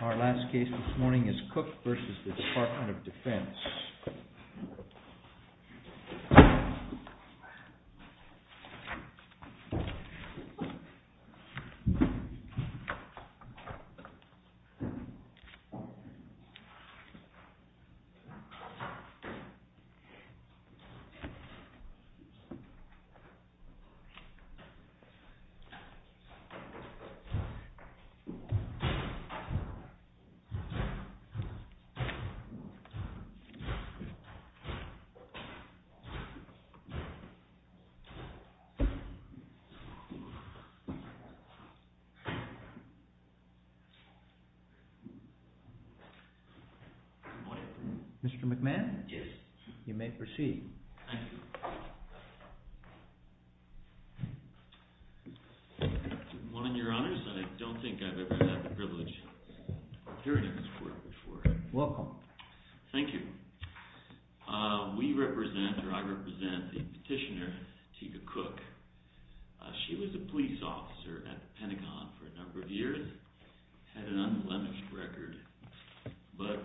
Our last case this morning is Cooke v. Department of Defense. Mr. McMahon, you may proceed. One of your honors, I don't think I've ever had the privilege of hearing this court before. Welcome. Thank you. We represent, or I represent the petitioner, Teika Cooke. She was a police officer at the Pentagon for a number of years, had an unblemished record, but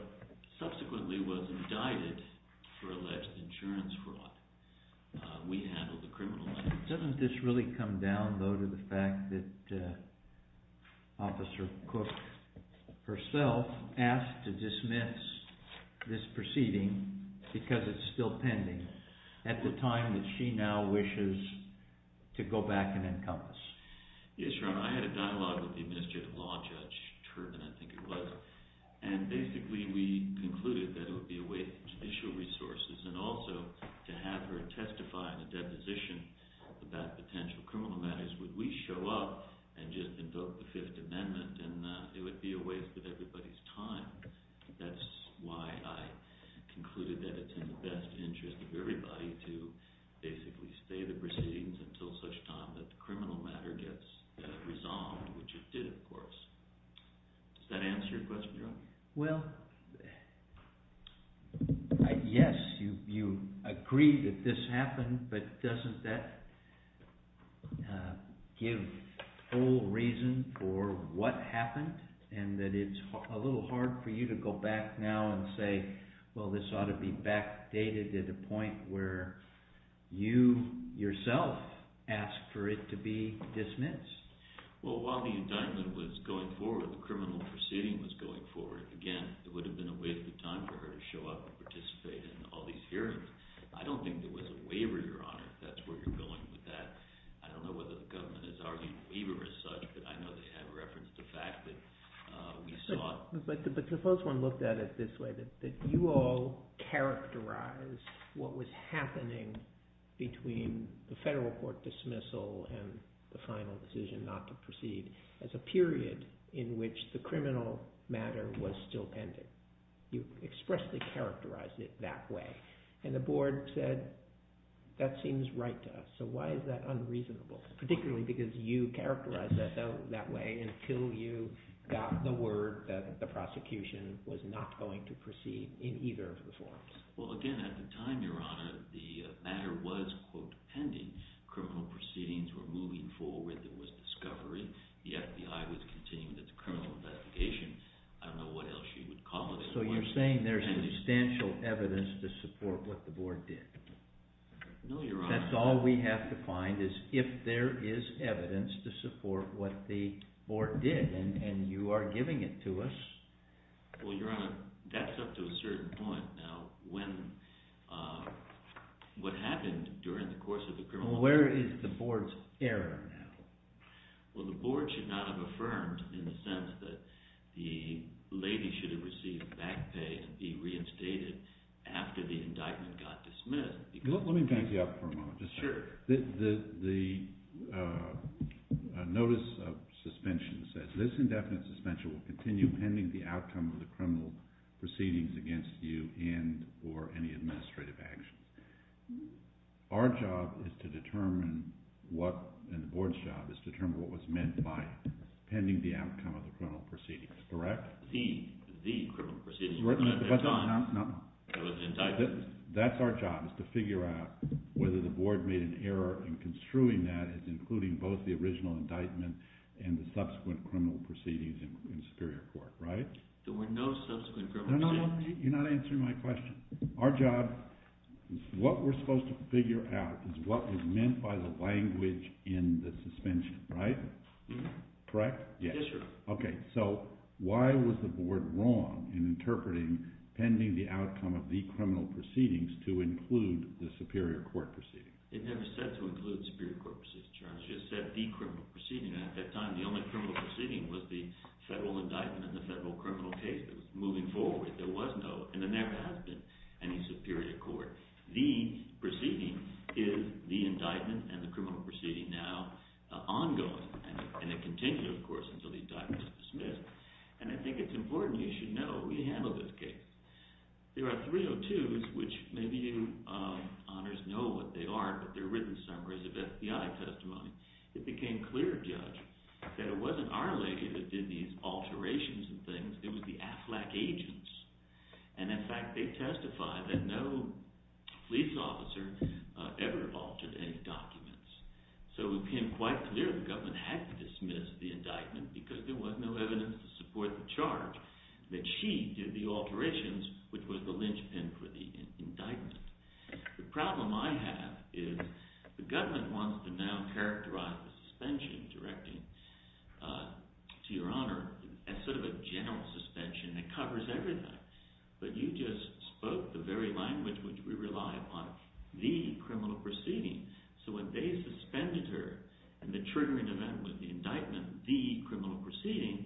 subsequently was indicted for alleged insurance fraud. We handled the criminal matters. Doesn't this really come down, though, to the fact that Officer Cooke herself asked to dismiss this proceeding because it's still pending at the time that she now wishes to go back and encompass? Yes, Your Honor, I had a dialogue with the Administrative Law Judge Turpin, I think it was, and basically we concluded that it would be a waste of judicial resources and also to have her testify in a deposition about potential criminal matters would we show up and just invoke the Fifth Amendment, and it would be a waste of everybody's time. That's why I concluded that it's in the best interest of everybody to basically stay the proceedings until such time that the criminal matter gets resolved, which it did, of course. Does that answer your question, Your Honor? Well, yes, you agree that this happened, but doesn't that give full reason for what happened and that it's a little hard for you to go back now and say, well, this ought to be backdated at a point where you yourself asked for it to be dismissed? Well, while the indictment was going forward, the criminal proceeding was going forward, again, it would have been a waste of time for her to show up and participate in all these hearings. I don't think there was a waiver, Your Honor, if that's where you're going with that. I don't know whether the government is arguing a waiver as such, but I know they have referenced the fact that we saw it. But the first one looked at it this way, that you all characterized what was happening between the federal court dismissal and the final decision not to proceed as a period in which the criminal matter was still pending. You expressly characterized it that way. And the board said, that seems right to us, so why is that unreasonable? Particularly because you characterized it that way until you got the word that the prosecution was not going to proceed in either of the forms. Well, again, at the time, Your Honor, the matter was, quote, pending. Criminal proceedings were moving forward. There was discovery. The FBI was continuing its criminal investigation. I don't know what else you would call it. So you're saying there's substantial evidence to support what the board did. No, Your Honor. That's all we have to find is if there is evidence to support what the board did, and you are giving it to us. Well, Your Honor, that's up to a certain point. Now, what happened during the course of the criminal investigation? Well, where is the board's error now? Well, the board should not have affirmed in the sense that the lady should have received back pay to be reinstated after the indictment got dismissed. Let me back you up for a moment. Sure. The notice of suspension says, This indefinite suspension will continue pending the outcome of the criminal proceedings against you and or any administrative actions. Our job is to determine what, and the board's job, is to determine what was meant by pending the outcome of the criminal proceedings, correct? The criminal proceedings. At the time, there was an indictment. That's our job, is to figure out whether the board made an error in construing that as including both the original indictment and the subsequent criminal proceedings in Superior Court, right? There were no subsequent criminal proceedings. You're not answering my question. Our job, what we're supposed to figure out, is what was meant by the language in the suspension, right? Correct? Yes, Your Honor. Okay, so why was the board wrong in interpreting pending the outcome of the criminal proceedings to include the Superior Court proceedings? It never said to include Superior Court proceedings, Your Honor. It just said the criminal proceedings. At that time, the only criminal proceeding was the federal indictment and the federal criminal case. It was moving forward. There was no, and there never has been, any Superior Court. The proceeding is the indictment and the criminal proceeding now ongoing. And it continued, of course, until the indictment was dismissed. And I think it's important you should know we handle this case. There are 302s, which maybe you honors know what they are, but they're written summaries of FBI testimony. It became clear, Judge, that it wasn't our lady that did these alterations and things. It was the AFLAC agents. And, in fact, they testified that no police officer ever altered any documents. So it became quite clear the government had to dismiss the indictment because there was no evidence to support the charge that she did the alterations, which was the linchpin for the indictment. The problem I have is the government wants to now characterize the suspension directing to Your Honor as sort of a general suspension that covers everything. But you just spoke the very language which we rely upon, the criminal proceeding. So when they suspended her and the triggering event was the indictment, the criminal proceeding,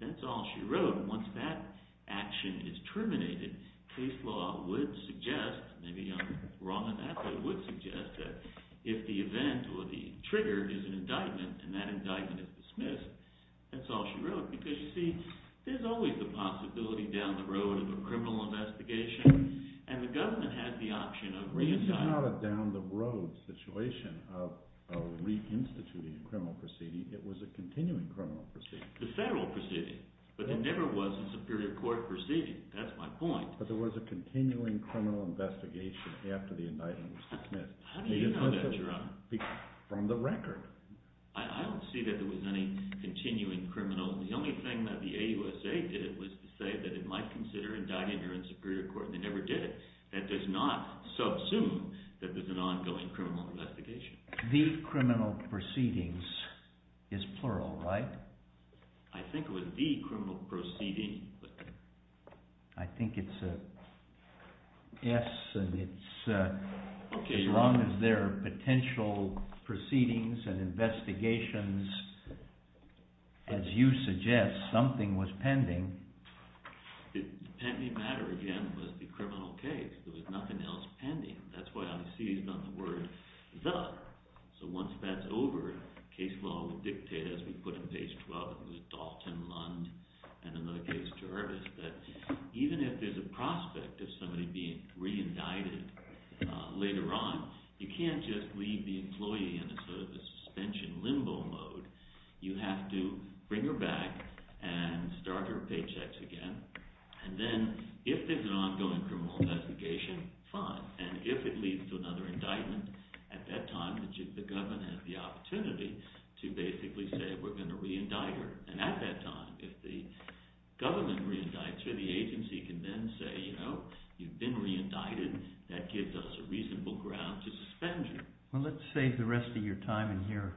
that's all she wrote. And once that action is terminated, case law would suggest, maybe I'm wrong on that, but it would suggest that if the event or the trigger is an indictment and that indictment is dismissed, that's all she wrote. Because, you see, there's always the possibility down the road of a criminal investigation. It was not a down the road situation of reinstituting a criminal proceeding. It was a continuing criminal proceeding. The federal proceeding. But there never was a superior court proceeding. That's my point. But there was a continuing criminal investigation after the indictment was dismissed. How do you know that, Your Honor? From the record. I don't see that there was any continuing criminal. The only thing that the AUSA did was to say that it might consider indicting her in superior court. They never did it. That does not subsume that there's an ongoing criminal investigation. The criminal proceedings is plural, right? I think it was the criminal proceeding. I think it's an S and it's as long as there are potential proceedings and investigations, as you suggest, something was pending. The pending matter, again, was the criminal case. There was nothing else pending. That's why, obviously, he's got the word, the. So once that's over, case law will dictate, as we put on page 12, it was Dalton, Lund, and another case, Jarvis, that even if there's a prospect of somebody being reindicted later on, you can't just leave the employee in a suspension limbo mode. You have to bring her back and start her paychecks again. And then if there's an ongoing criminal investigation, fine. And if it leads to another indictment at that time, the government has the opportunity to basically say we're going to reindict her. And at that time, if the government reindicts her, the agency can then say, you know, you've been reindicted. That gives us a reasonable ground to suspend you. Well, let's save the rest of your time and hear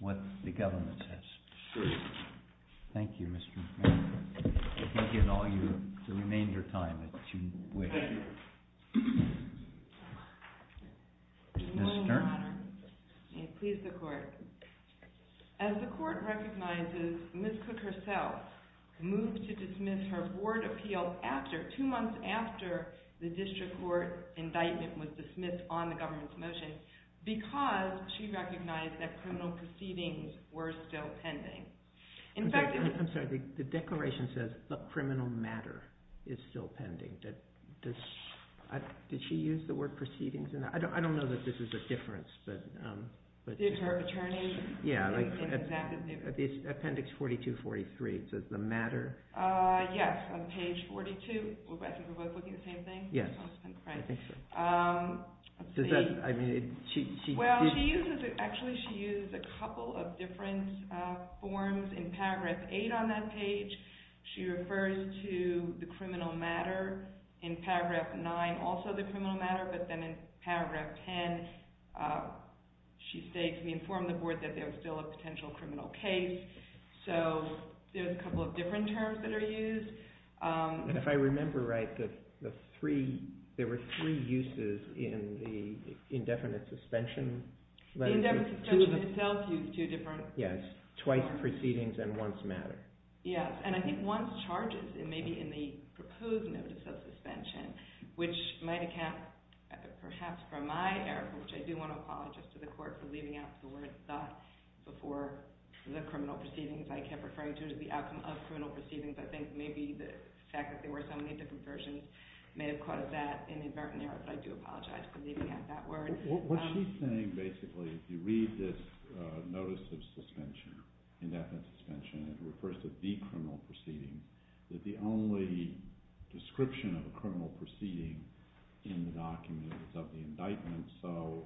what the government says. Sure. Thank you, Mr. McManus. You can give all the remainder of your time that you wish. Thank you. Ms. Stern. May it please the court. As the court recognizes, Ms. Cook herself moved to dismiss her board appeal two months after the district court indictment was dismissed on the government's motion because she recognized that criminal proceedings were still pending. I'm sorry. The declaration says criminal matter is still pending. Did she use the word proceedings? I don't know that this is a difference. Did her attorney? Yeah. Appendix 4243. It says the matter. Yes. On page 42. I think we're both looking at the same thing. Yes. I think so. Let's see. Does that, I mean. Well, she uses, actually she uses a couple of different forms. In paragraph 8 on that page, she refers to the criminal matter. In paragraph 9, also the criminal matter, but then in paragraph 10, she states, we inform the board that there's still a potential criminal case. So, there's a couple of different terms that are used. If I remember right, the three, there were three uses in the indefinite suspension. The indefinite suspension itself used two different. Yes. Twice proceedings and once matter. Yes. And I think once charges, it may be in the proposed notice of suspension, which might account perhaps for my error, which I do want to apologize to the court for leaving out the word thus before the criminal proceedings. I kept referring to the outcome of criminal proceedings. I think maybe the fact that there were so many different versions may have caused that inadvertent error. But I do apologize for leaving out that word. What she's saying basically, if you read this notice of suspension, indefinite suspension, it refers to the criminal proceedings, that the only description of a criminal proceeding in the document is of the indictment. So,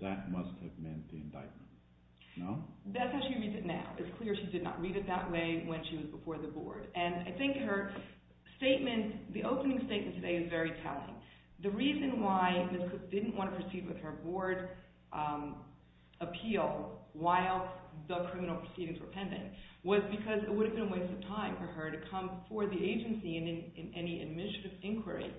that must have meant the indictment. No? That's how she reads it now. It's clear she did not read it that way when she was before the board. And I think her statement, the opening statement today is very telling. The reason why Ms. Cook didn't want to proceed with her board appeal while the criminal proceedings were pending was because it would have been a waste of time for her to come before the agency in any administrative inquiry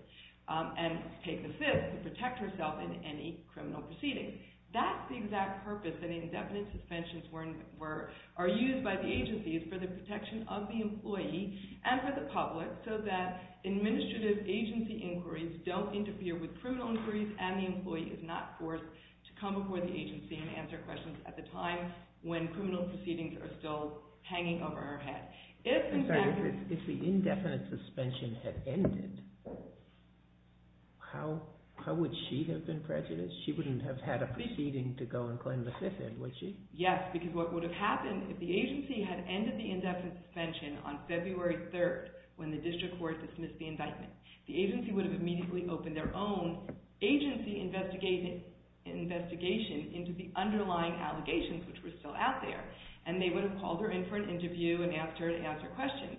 and take the fifth to protect herself in any criminal proceedings. That's the exact purpose that indefinite suspensions are used by the agencies for the protection of the employee and for the public so that administrative agency inquiries don't interfere with criminal inquiries and the employee is not forced to come before the agency and answer questions at the time when criminal proceedings are still hanging over her head. If the indefinite suspension had ended, how would she have been prejudiced? She wouldn't have had a proceeding to go and claim the fifth, would she? Yes, because what would have happened if the agency had ended the indefinite suspension on February 3rd when the district court dismissed the indictment, the agency would have immediately opened their own agency investigation into the underlying allegations which were still out there. And they would have called her in for an interview and asked her to answer questions.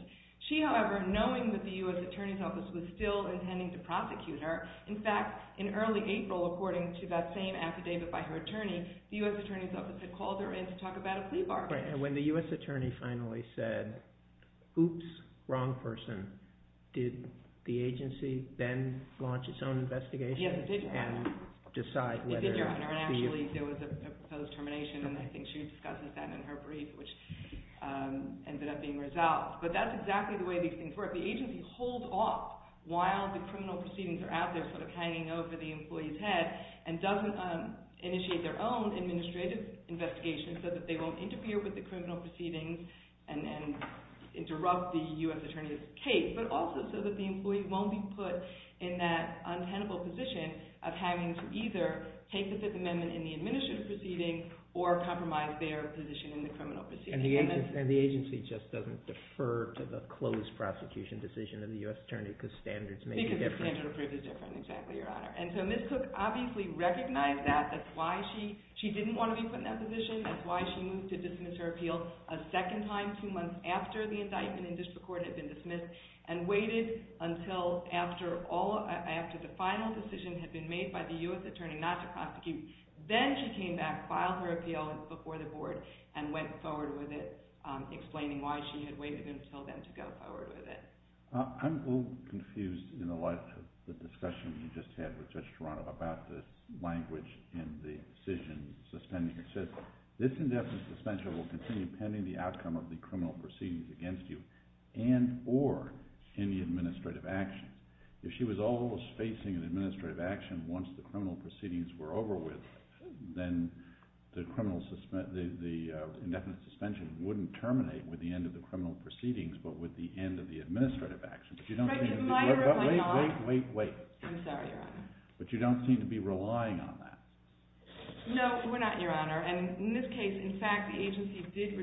She, however, knowing that the U.S. Attorney's Office was still intending to prosecute her, in fact, in early April, according to that same affidavit by her attorney, the U.S. Attorney's Office had called her in to talk about a plea bargain. And when the U.S. Attorney finally said, oops, wrong person, did the agency then launch its own investigation? Yes, it did. And decide whether... It did, Your Honor, and actually there was a proposed termination and I think she discussed that in her brief which ended up being resolved. But that's exactly the way these things work. The agency holds off while the criminal proceedings are out there sort of hanging over the employee's head and doesn't initiate their own administrative investigation so that they won't interfere with the criminal proceedings and interrupt the U.S. Attorney's case. But also so that the employee won't be put in that untenable position of having to either take the Fifth Amendment in the administrative proceeding or compromise their position in the criminal proceeding. And the agency just doesn't defer to the closed prosecution decision of the U.S. Attorney because standards may be different. Because the standard approved is different, exactly, Your Honor. And so Ms. Cook obviously recognized that. That's why she didn't want to be put in that position. That's why she moved to dismiss her appeal a second time two months after the indictment in district court had been dismissed and waited until after the final decision had been made by the U.S. Attorney not to prosecute. Then she came back, filed her appeal before the board, and went forward with it explaining why she had waited until then to go forward with it. I'm a little confused in the light of the discussion you just had with Judge Toronto about the language in the decision suspending her case. This indefinite suspension will continue pending the outcome of the criminal proceedings against you and or any administrative action. If she was always facing an administrative action once the criminal proceedings were over with, then the indefinite suspension wouldn't terminate with the end of the criminal proceedings but with the end of the administrative action. Wait, wait, wait. I'm sorry, Your Honor. But you don't seem to be relying on that. No, we're not, Your Honor. In this case, in fact, the agency did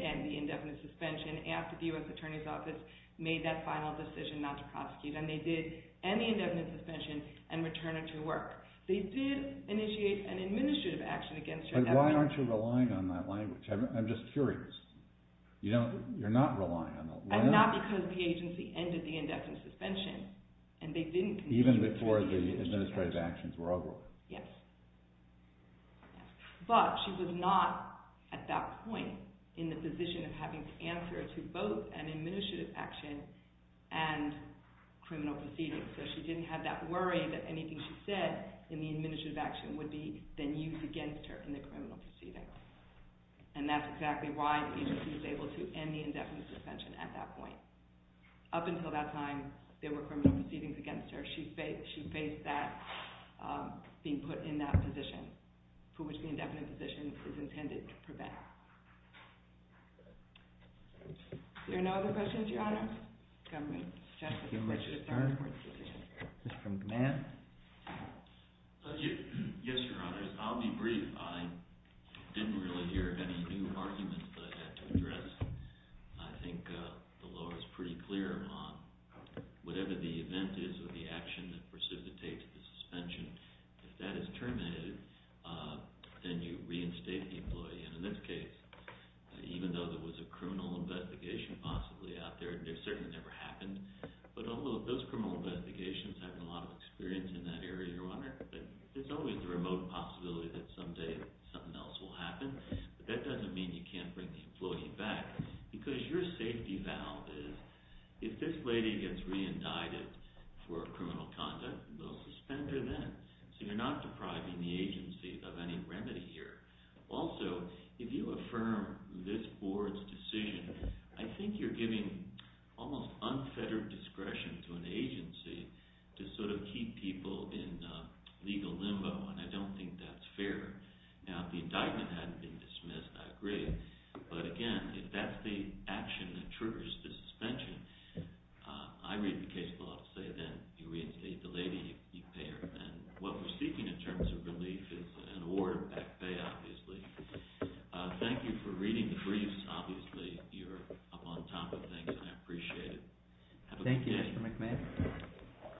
end the indefinite suspension after the U.S. Attorney's Office made that final decision not to prosecute. They did end the indefinite suspension and return her to work. They did initiate an administrative action against her. But why aren't you relying on that language? I'm just curious. You're not relying on it. Not because the agency ended the indefinite suspension. Even before the administrative actions were over? Yes. But she was not, at that point, in the position of having to answer to both an administrative action and criminal proceedings. So she didn't have that worry that anything she said in the administrative action would be then used against her in the criminal proceedings. And that's exactly why the agency was able to end the indefinite suspension at that point. Up until that time, there were criminal proceedings against her. She faced that, being put in that position, for which the indefinite position is intended to prevent. Are there no other questions, Your Honor? Government. Thank you, Mr. Stern. Mr. McMahon. Yes, Your Honor. I'll be brief. I didn't really hear any new arguments that I had to address. I think the law is pretty clear on whatever the event is or the action that precipitates the suspension. If that is terminated, then you reinstate the employee. And in this case, even though there was a criminal investigation possibly out there, it certainly never happened. But although those criminal investigations have a lot of experience in that area, Your Honor, it's always a remote possibility that someday something else will happen. But that doesn't mean you can't bring the employee back, because your safety valve is, if this lady gets re-indicted for criminal conduct, they'll suspend her then. So you're not depriving the agency of any remedy here. Also, if you affirm this board's decision, I think you're giving almost unfettered discretion to an agency to sort of keep people in legal limbo, and I don't think that's fair. Now, if the indictment hadn't been dismissed, I agree. But again, if that's the action that triggers the suspension, I read the case law to say then you reinstate the lady, you pay her then. What we're seeking in terms of relief is an award of back pay, obviously. Thank you for reading the briefs. Obviously, you're up on top of things, and I appreciate it. Have a good day. Thank you, Mr. McMahon.